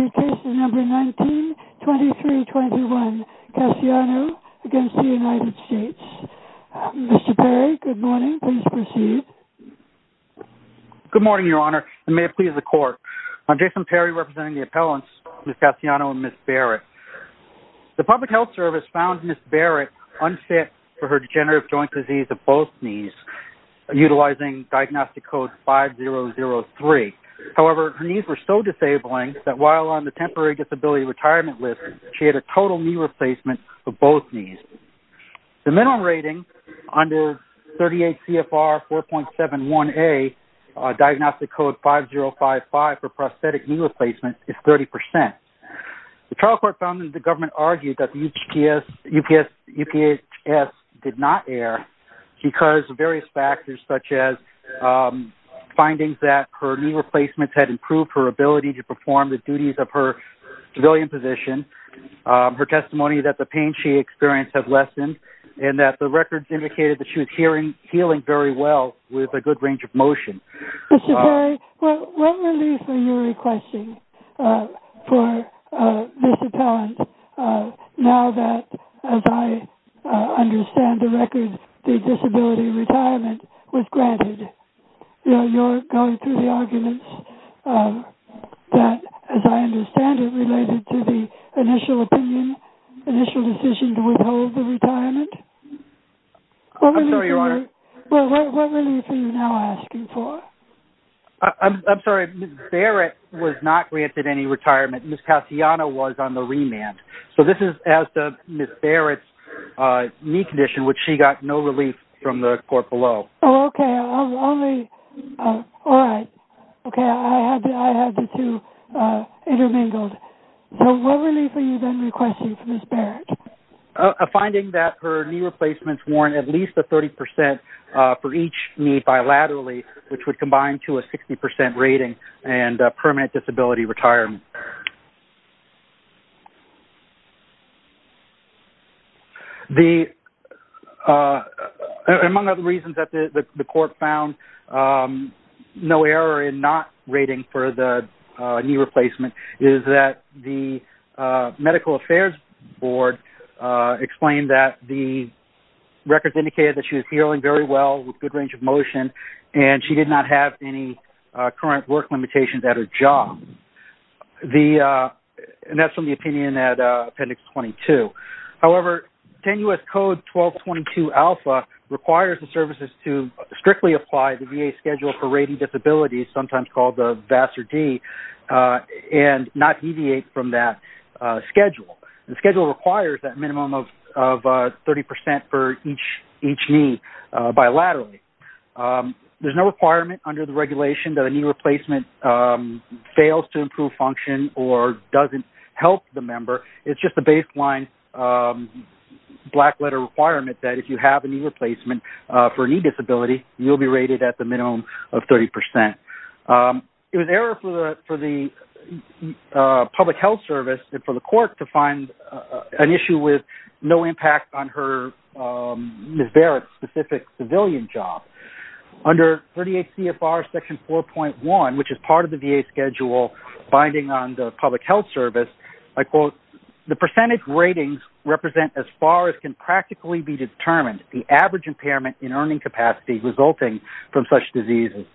Case No. 19-2321, Cassiano v. United States. Mr. Perry, good morning, please proceed. Good morning, Your Honor, and may it please the Court. I'm Jason Perry, representing the appellants Ms. Cassiano and Ms. Barrett. The Public Health Service found Ms. Barrett unfit for her degenerative joint disease of both knees, utilizing Diagnostic Code 5003. However, her knees were so disabling that while on the Temporary Disability Retirement List, she had a total knee replacement of both knees. The minimum rating under 38 CFR 4.71a Diagnostic Code 5055 for prosthetic knee replacements is 30%. The trial court found that the government argued that the UPS did not err because of various factors such as findings that her knee replacements had improved her ability to perform the duties of her civilian position, her testimony that the pain she experienced had lessened, and that the records indicated that she was healing very well with a good range of motion. Mr. Perry, what relief are you requesting for this appellant now that, as I understand the records, the disability retirement was granted? You're going through the arguments that, as I understand it, related to the initial opinion, initial decision to withhold the retirement? I'm sorry, Your Honor? What relief are you now asking for? I'm sorry. Ms. Barrett was not granted any retirement. Ms. Cassiano was on the remand. So this is as the Ms. Barrett's knee condition, which she got no support below. Oh, okay. All right. Okay. I had the two intermingled. So what relief are you then requesting for Ms. Barrett? A finding that her knee replacements warrant at least a 30% for each knee bilaterally, which would combine to a 60% rating and permanent disability retirement. Among other reasons that the court found no error in not rating for the knee replacement is that the medical affairs board explained that the records indicated that she was healing very well with good range of motion, and she did not have any current work limitations at her job. And that's from the opinion at Appendix 22. However, 10 U.S. Code 1222-Alpha requires the services to strictly apply the VA schedule for rating disabilities, sometimes called the VAS or D, and not deviate from that schedule. The schedule requires that minimum of 30% for each knee bilaterally. There's no requirement under the regulation that a knee replacement fails to improve function or doesn't help the member. It's just a baseline black letter requirement that if you have a knee replacement for a knee disability, you'll be rated at the minimum of 30%. It was error for the public health service and for the court to find an issue with no one, which is part of the VA schedule binding on the public health service, I quote, the percentage ratings represent as far as can practically be determined the average impairment in earning capacity resulting from such diseases.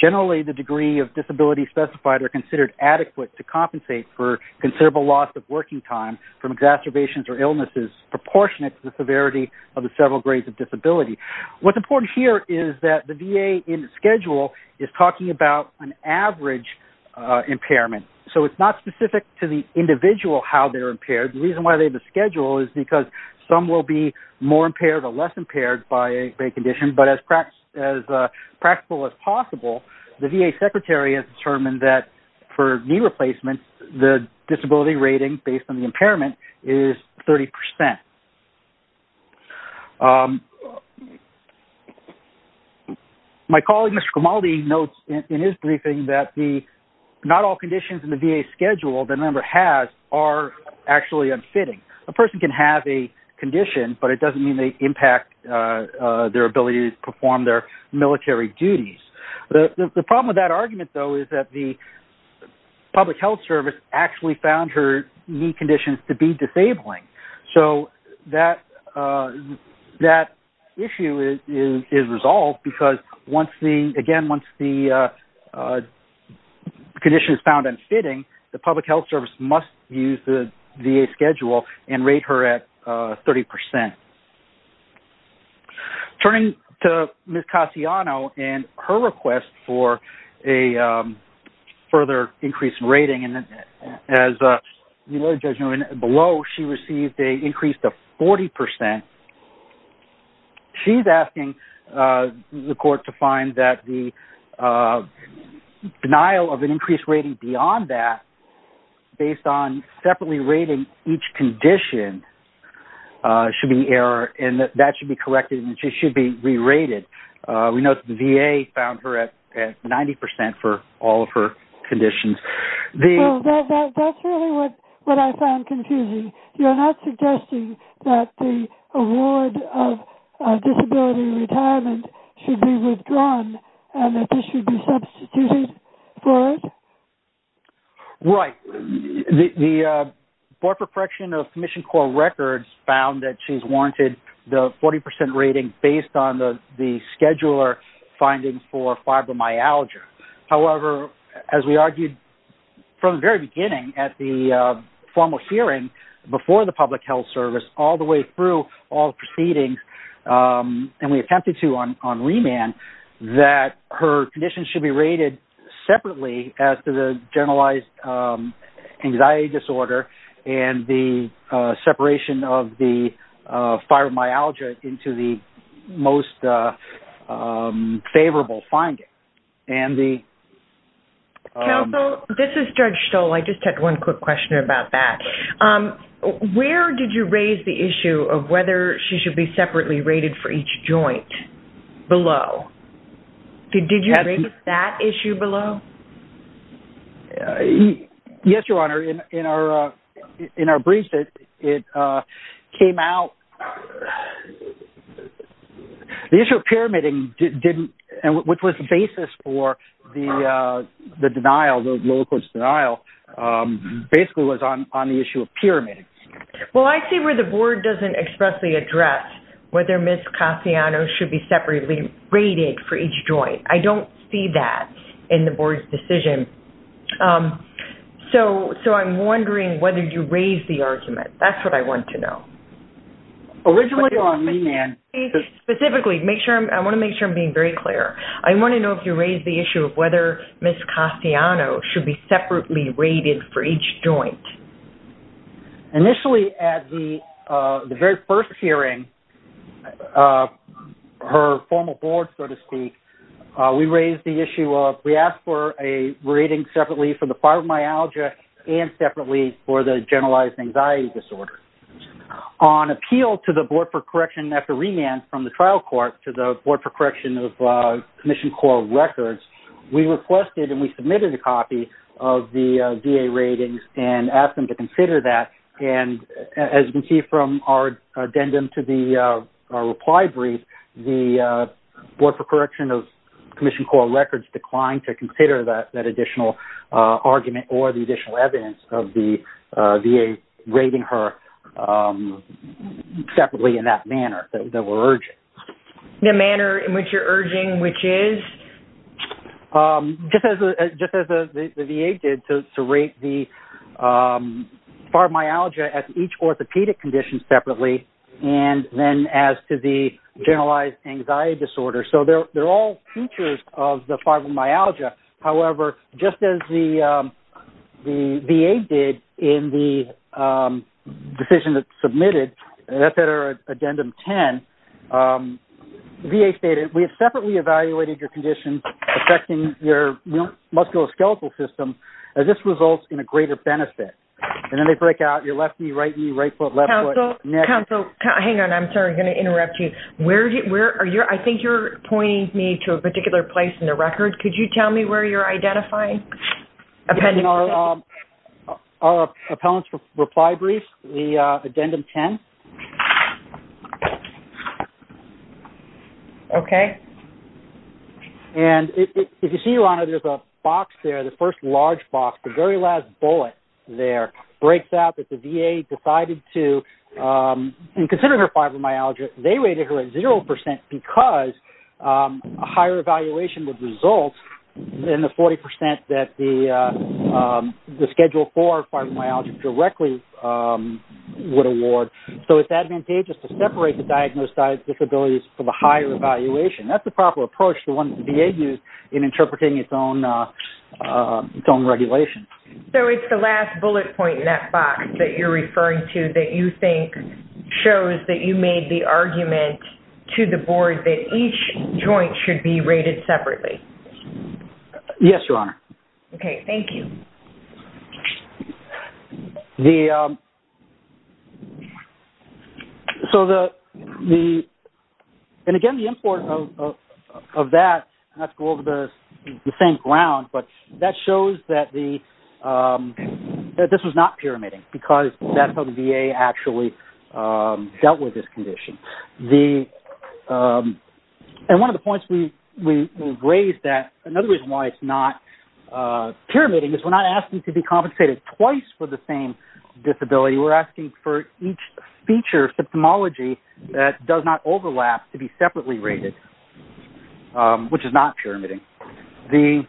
Generally, the degree of disability specified are considered adequate to compensate for considerable loss of working time from exacerbations or illnesses proportionate to the severity of the several grades of disability. What's important here is that the average impairment, so it's not specific to the individual how they're impaired. The reason why they have the schedule is because some will be more impaired or less impaired by a condition, but as practical as possible, the VA secretary has determined that for knee replacements, the disability rating based on the impairment is 30%. My colleague, Mr. Gamaldi notes in his briefing that the not all conditions in the VA schedule the member has are actually unfitting. A person can have a condition, but it doesn't mean they impact their ability to perform their military duties. The problem with that argument though, is that the public health service actually found her knee conditions to be disabling. So, that issue is resolved because once the condition is found unfitting, the public health service must use the VA schedule and rate her at 30%. Turning to Ms. Cassiano and her request for a further increase in rating, and as you know, below she received an increase of 40%. She's asking the court to find that the denial of an increased rating beyond that, based on separately rating each condition, should be error, and that should be corrected, and she should be re-rated. We know the VA found her at 90% for all of her conditions. Well, that's really what I found confusing. You're not suggesting that the award of disability retirement should be withdrawn, and that this should be substituted for it? Right. The Board for Correction of Commissioned Corps Records found that she's warranted the 40% rating based on the scheduler finding for fibromyalgia. However, as we argued from the very beginning at the formal hearing before the public health service, all the way through all proceedings, and we attempted to on remand, that her conditions should be rated separately as to the generalized anxiety disorder and the separation of the fibromyalgia into the most favorable finding. Counsel, this is Judge Stoll. I just had one quick question about that. Where did you raise the issue of whether she should be separately rated for each joint below? Did you raise that issue below? Yes, Your Honor. In our briefs, it came out the issue of pyramiding didn't, and which was the basis for the denial, the low-cost denial, basically was on the issue of pyramiding. Well, I see where the Board doesn't expressly address whether Ms. Casiano should be separately rated for each joint. I don't see that in the Board's decision. So I'm wondering whether you raised the argument. That's what I want to know. Originally on remand. Specifically, I want to make sure I'm being very clear. I want to know if you raised the issue of whether Ms. Casiano should be separately rated for each joint. Initially at the very first hearing, her formal Board, so to speak, we raised the issue of we asked for a rating separately for the fibromyalgia and separately for the generalized anxiety disorder. On appeal to the Board for Correction after remand from the trial court to the Board for Correction of Commissioned Coral Records, we requested and we submitted a copy of the VA ratings and asked them to consider that. And as you can see from our addendum to the reply brief, the Board for Correction of Commissioned Coral Records declined to consider that additional argument or the additional evidence of the VA rating her separately in that manner that we're urging. The manner in which you're urging which is? Just as the VA did to rate the fibromyalgia at each orthopedic condition separately and then as to the generalized anxiety disorder. So, they're all features of the fibromyalgia. However, just as the VA did in the decision that submitted, that's at our addendum 10, VA stated, we have separately evaluated your condition affecting your musculoskeletal system. This results in a greater benefit. And then they break out your left knee, right knee, right foot, left foot. Counsel, hang on. I'm sorry. I'm going to interrupt you. Where are you? I think you're pointing me to a particular place in the record. Could you tell me where you're identifying? Our appellant's reply brief, the addendum 10. Okay. And if you see, Lana, there's a box there, the first large box, the very last bullet there breaks out that the VA decided to consider her fibromyalgia. They rated her at zero percent because a higher evaluation would result in the 40 percent that the schedule for fibromyalgia directly would award. So, it's advantageous to separate the diagnosed disabilities for the higher evaluation. That's the proper approach the VA used in interpreting its own regulation. So, it's the last bullet point in that box that you're referring to that you think shows that you made the argument to the board that each joint should be rated separately. Yes, Your Honor. Okay. Thank you. So, and again, the import of that, not to go over the same ground, but that shows that the VA, that this was not pyramiding because that's how the VA actually dealt with this condition. And one of the points we raised that, another reason why it's not pyramiding is we're not asking to be compensated twice for the same disability. We're asking for each feature, symptomology, that does not overlap to be separately rated, which is not pyramiding. The,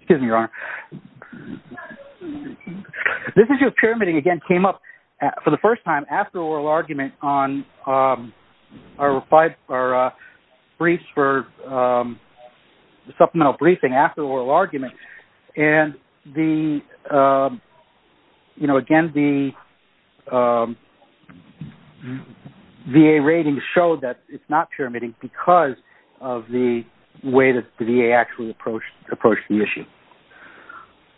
excuse me, Your Honor. This issue of pyramiding, again, came up for the first time after oral argument on our briefs for supplemental briefing after oral argument. And the, you know, again, the VA rating showed that it's not pyramiding because of the way that the VA actually approached the issue.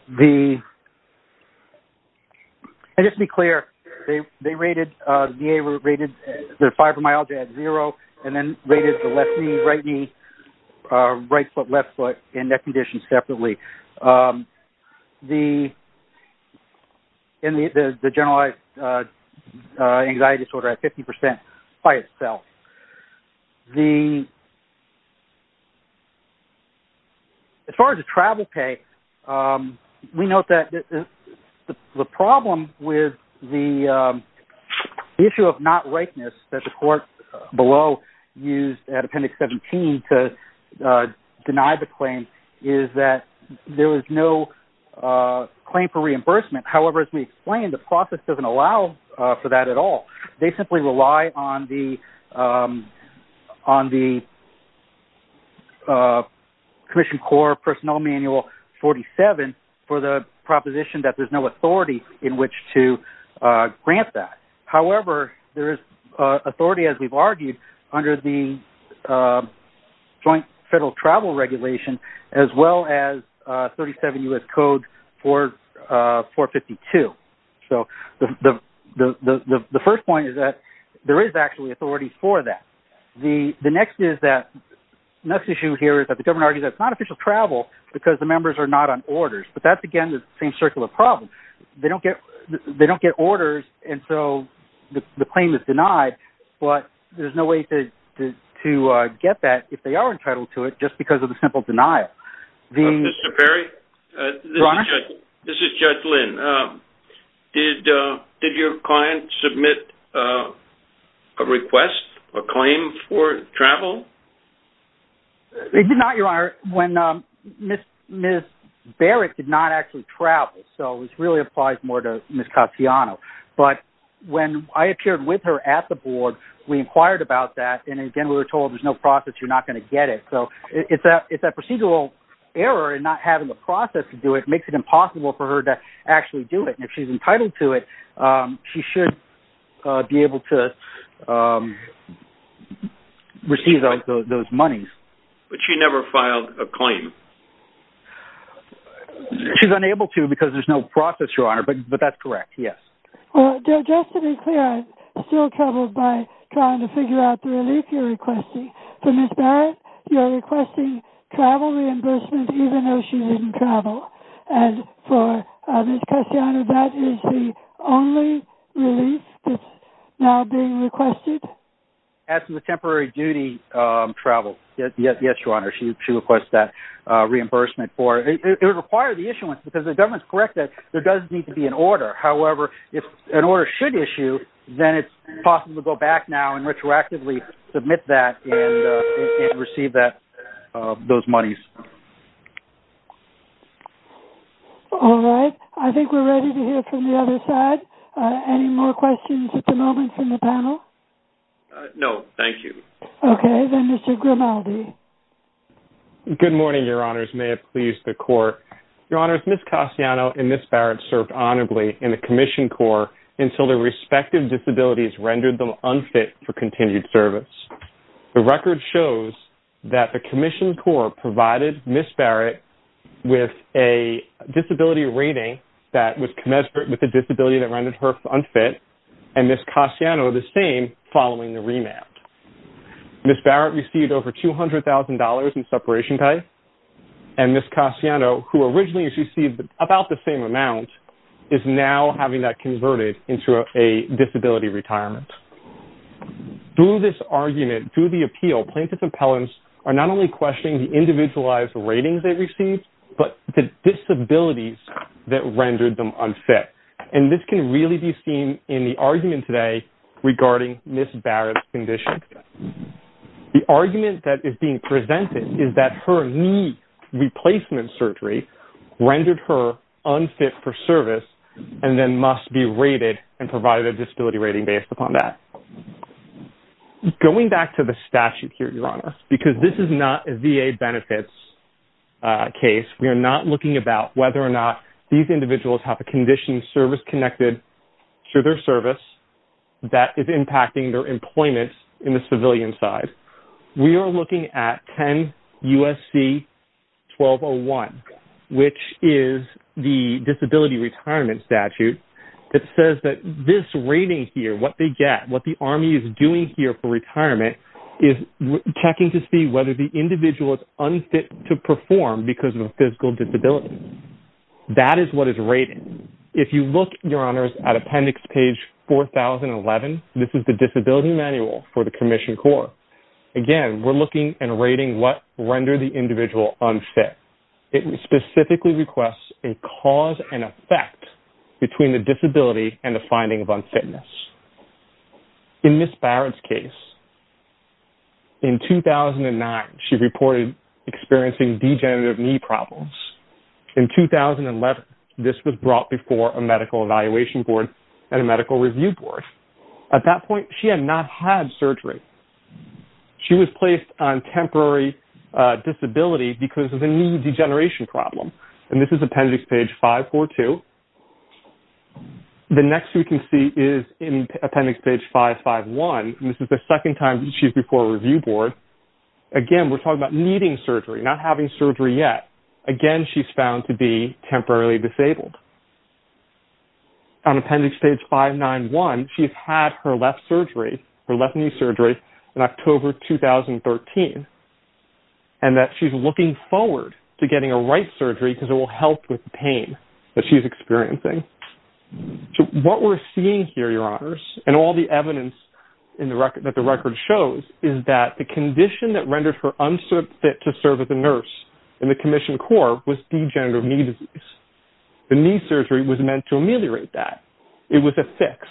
The, and just to be clear, they rated, the VA rated the fibromyalgia at zero and then rated the left knee, right knee, right foot, left foot, and neck conditions separately. The, and the generalized anxiety disorder at 50% by itself. The, as far as the travel pay, we note that the problem with the issue of not rightness that the court below used at appendix 17 to deny the claim is that there was no claim for reimbursement. However, as we explained, the process doesn't allow for that at all. They simply rely on the, on the commission core personnel manual 47 for the proposition that there's no authority in which to grant that. However, there is authority, as we've argued, under the joint federal travel regulation, as well as 37 U.S. Code 452. So the first point is that there is actually authority for that. The next is that, next issue here is that the government argues that it's not official travel because the members are not on orders. But that's, again, the same problem. They don't get, they don't get orders. And so the claim is denied, but there's no way to get that if they are entitled to it, just because of the simple denial. Mr. Perry, this is Judge Lynn. Did your client submit a request, a claim for travel? They did not, Your Honor. When Ms. Barrett did not actually travel, so this really applies more to Ms. Caziano. But when I appeared with her at the board, we inquired about that. And again, we were told there's no process, you're not going to get it. So it's that procedural error in not having a process to do it makes it impossible for her to actually do it. And if she's entitled to it, she should be able to receive those monies. But she never filed a claim? She's unable to because there's no process, Your Honor, but that's correct, yes. Just to be clear, I'm still troubled by trying to figure out the relief you're requesting. For Ms. Barrett, you're requesting travel reimbursement even though she didn't travel. And for Ms. Caziano, that is the only relief that's now being requested? After the temporary duty travel, yes, Your Honor. She requests that reimbursement for it. It requires the issuance because the government's correct that there does need to be an order. However, if an order should issue, then it's possible to go back now and retroactively submit that and receive those monies. All right. I think we're ready to hear from the other side. Any more questions at the moment from the panel? No, thank you. Okay. Then Mr. Grimaldi. Good morning, Your Honors. May it please the Court. Your Honors, Ms. Caziano and Ms. Barrett served honorably in the Commissioned Corps until their respective disabilities rendered them unfit for continued service. The record shows that the Commissioned Corps provided Ms. Barrett with a disability rating that was commensurate with the disability that rendered her unfit and Ms. Caziano the same following the remand. Ms. Barrett received over $200,000 in separation pay, and Ms. Caziano, who originally received about the same amount, is now having that converted into a disability retirement. Through this argument, through the appeal, plaintiff's appellants are not only questioning the individualized ratings they received, but the disabilities that rendered them unfit. And this can really be seen in the argument today regarding Ms. Barrett's condition. The argument that is being presented is that her knee replacement surgery rendered her unfit for service and then must be rated and provided a disability rating based upon that. Going back to the statute here, Your Honors, because this is not a VA benefits case, we are not looking about whether or not these individuals have a condition service connected to their service that is impacting their employment in the civilian side. We are looking at 10 U.S.C. 1201, which is the disability retirement statute that says that this rating here, what they get, what the Army is doing here for retirement, is checking to see whether the individual is unfit to perform because of a physical disability. That is what is rated. If you look, Your Honors, at Appendix Page 4011, this is the disability manual for the Commissioned Corps. Again, we're looking and rating what rendered the individual unfit. It specifically requests a cause and effect between the disability and the finding of unfitness. In Ms. Barrett's case, in 2009, she reported experiencing degenerative knee problems. In 2011, this was brought before a medical evaluation board and a medical review board. At that point, she had not had surgery. She was placed on temporary disability because of a knee degeneration problem. This is Appendix Page 542. The next we can see is in Appendix Page 551. This is the second time she's before a review board. Again, we're talking about needing surgery, not having surgery yet. Again, she's found to be temporarily disabled. On Appendix Page 591, she's had her left knee surgery in October 2013, and that she's looking forward to getting a right surgery because it will help with the pain that she's experiencing. What we're seeing here, Your Honors, and all the evidence that the record shows is that the condition that rendered her unfit to serve as a nurse in the Commissioned Corps was degenerative knee disease. The knee surgery was meant to ameliorate that. It was a fix.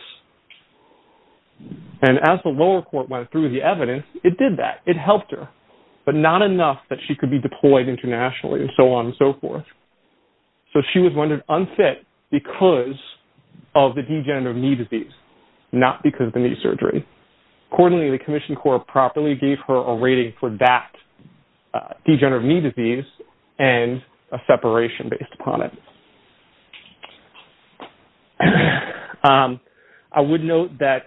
And as the lower court went through the evidence, it did that. It helped her, but not enough that she could be deployed internationally and so on and so forth. So she was rendered unfit because of the degenerative knee disease, not because of the knee surgery. Accordingly, the Commissioned Corps properly gave her a rating for that degenerative knee disease and a separation based upon it. I would note that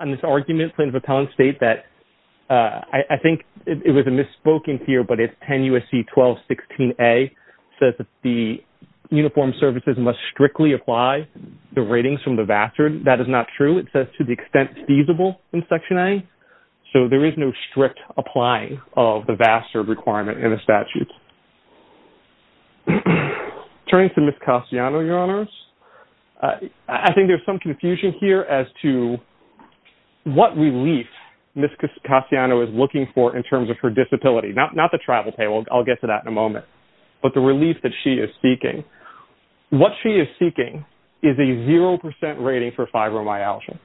in this argument plaintiff appellant state that I think it was a misspoken here, but it's 10 U.S.C. 1216a says that the uniformed services must strictly apply the ratings from the VASR. That is not true. It says to the extent feasible in Section A. So there is no strict applying of the VASR requirement in the statute. Turning to Ms. Castellano, Your Honors, I think there's some confusion here as to what relief Ms. Castellano is looking for in terms of her disability. Not the travel pay. I'll get to that in a moment. But the relief that she is seeking. What she is seeking is a 0% rating for fibromyalgia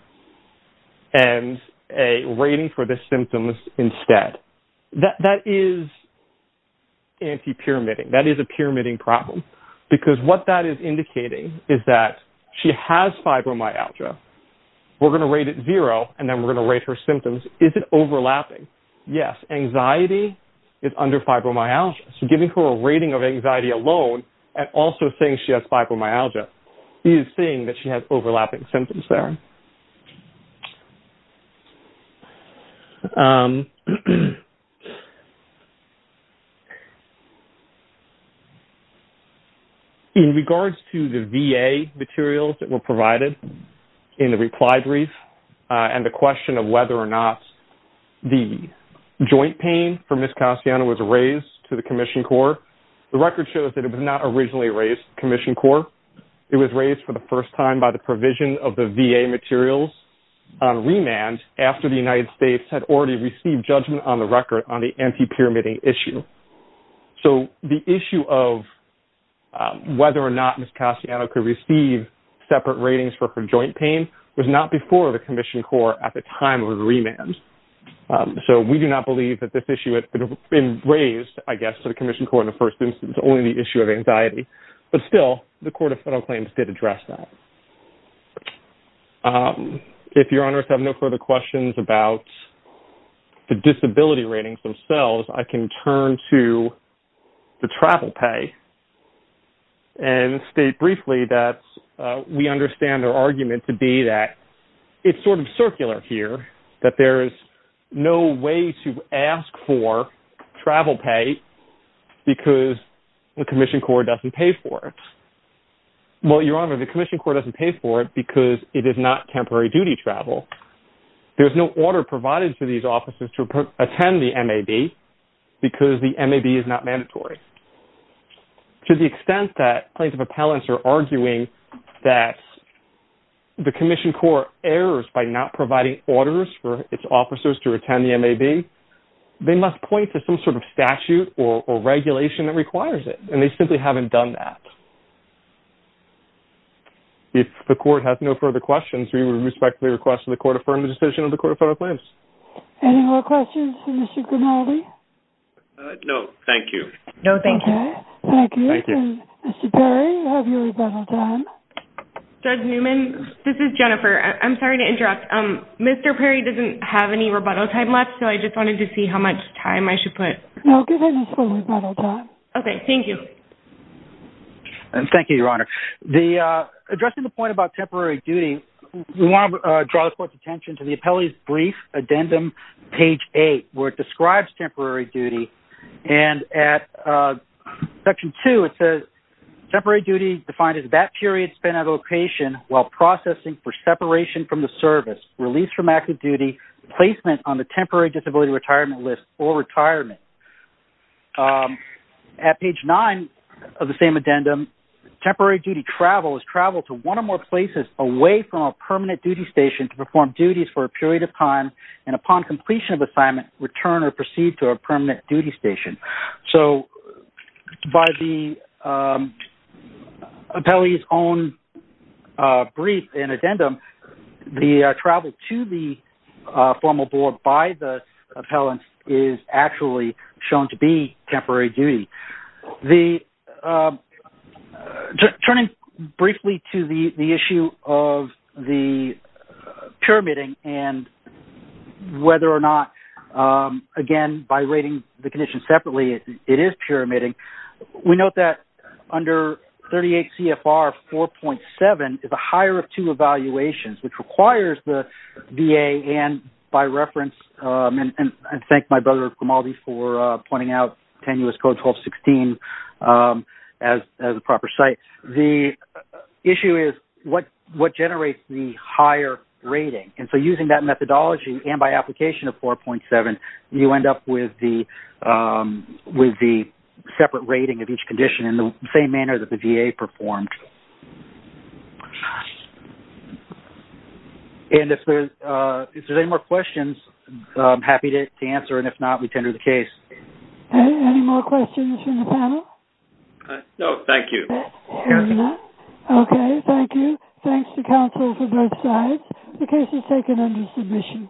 and a rating for the symptoms instead. That is anti-pyramiding. That is a pyramiding problem because what that is indicating is that she has fibromyalgia. We're going to rate it 0% and then we're going to rate her symptoms. Is it overlapping? Yes. Anxiety is under fibromyalgia. So giving her a rating of anxiety alone and also saying she has fibromyalgia is saying that she has overlapping symptoms there. In regards to the VA materials that were provided in the reply brief and the question of whether or not the joint pain for Ms. Castellano was raised to the Commission Corps, the record shows that it was not originally raised to the Commission Corps. It was raised for the first time by the provision of the VA materials on remand after the United States had already received judgment on the record on the anti-pyramiding issue. So the issue of whether or not Ms. Castellano could receive separate ratings for her joint pain was not before the Commission Corps at the time of the remand. So we do not believe that this issue had been raised, I guess, to the Commission Corps in the first instance. It's only the issue of anxiety. But still, the Court of Federal Claims did address that. If your honors have no further questions about the disability ratings themselves, I can turn to the travel pay and state briefly that we understand their argument to be that it's sort of circular here, that there is no way to ask for travel pay because the Commission Corps doesn't pay for it. Well, your honor, the Commission Corps doesn't pay for it because it is not temporary duty travel. There's no order provided for these officers to attend the MAB because the MAB is not mandatory. To the extent that plaintiff appellants are arguing that the Commission Corps errors by not providing orders for its officers to attend the MAB, they must point to some sort of statute or regulation that requires it. And they simply have done that. If the Court has no further questions, we respectfully request that the Court affirm the decision of the Court of Federal Claims. Any more questions for Mr. Grimaldi? No, thank you. No, thank you. Thank you. And Mr. Perry, you have your rebuttal time. Judge Newman, this is Jennifer. I'm sorry to interrupt. Mr. Perry doesn't have any rebuttal time left, so I just wanted to see how much time I should put... No, give him his full rebuttal time. Okay, thank you. Thank you, your honor. Addressing the point about temporary duty, we want to draw the Court's attention to the appellee's brief addendum, page eight, where it describes temporary duty. And at section two, it says, temporary duty defined as that period spent at a location while processing for separation from the service, release from active service. At page nine of the same addendum, temporary duty travel is travel to one or more places away from a permanent duty station to perform duties for a period of time, and upon completion of assignment, return or proceed to a permanent duty station. So by the appellee's own brief and addendum, the travel to the formal board by the appellant is actually shown to be the... Turning briefly to the issue of the pyramiding and whether or not, again, by rating the condition separately, it is pyramiding. We note that under 38 CFR 4.7 is a higher of two evaluations, which requires the VA and, by reference, and I thank my brother Gamaldi for pointing out tenuous code 1216 as a proper site. The issue is what generates the higher rating. And so using that methodology and by application of 4.7, you end up with the separate rating of each condition in the same manner that the VA performed. And if there's any more questions, I'm happy to answer, and if not, we tender the case. Any more questions from the panel? No, thank you. Okay, thank you. Thanks to counsel for both sides. The case is taken under submission.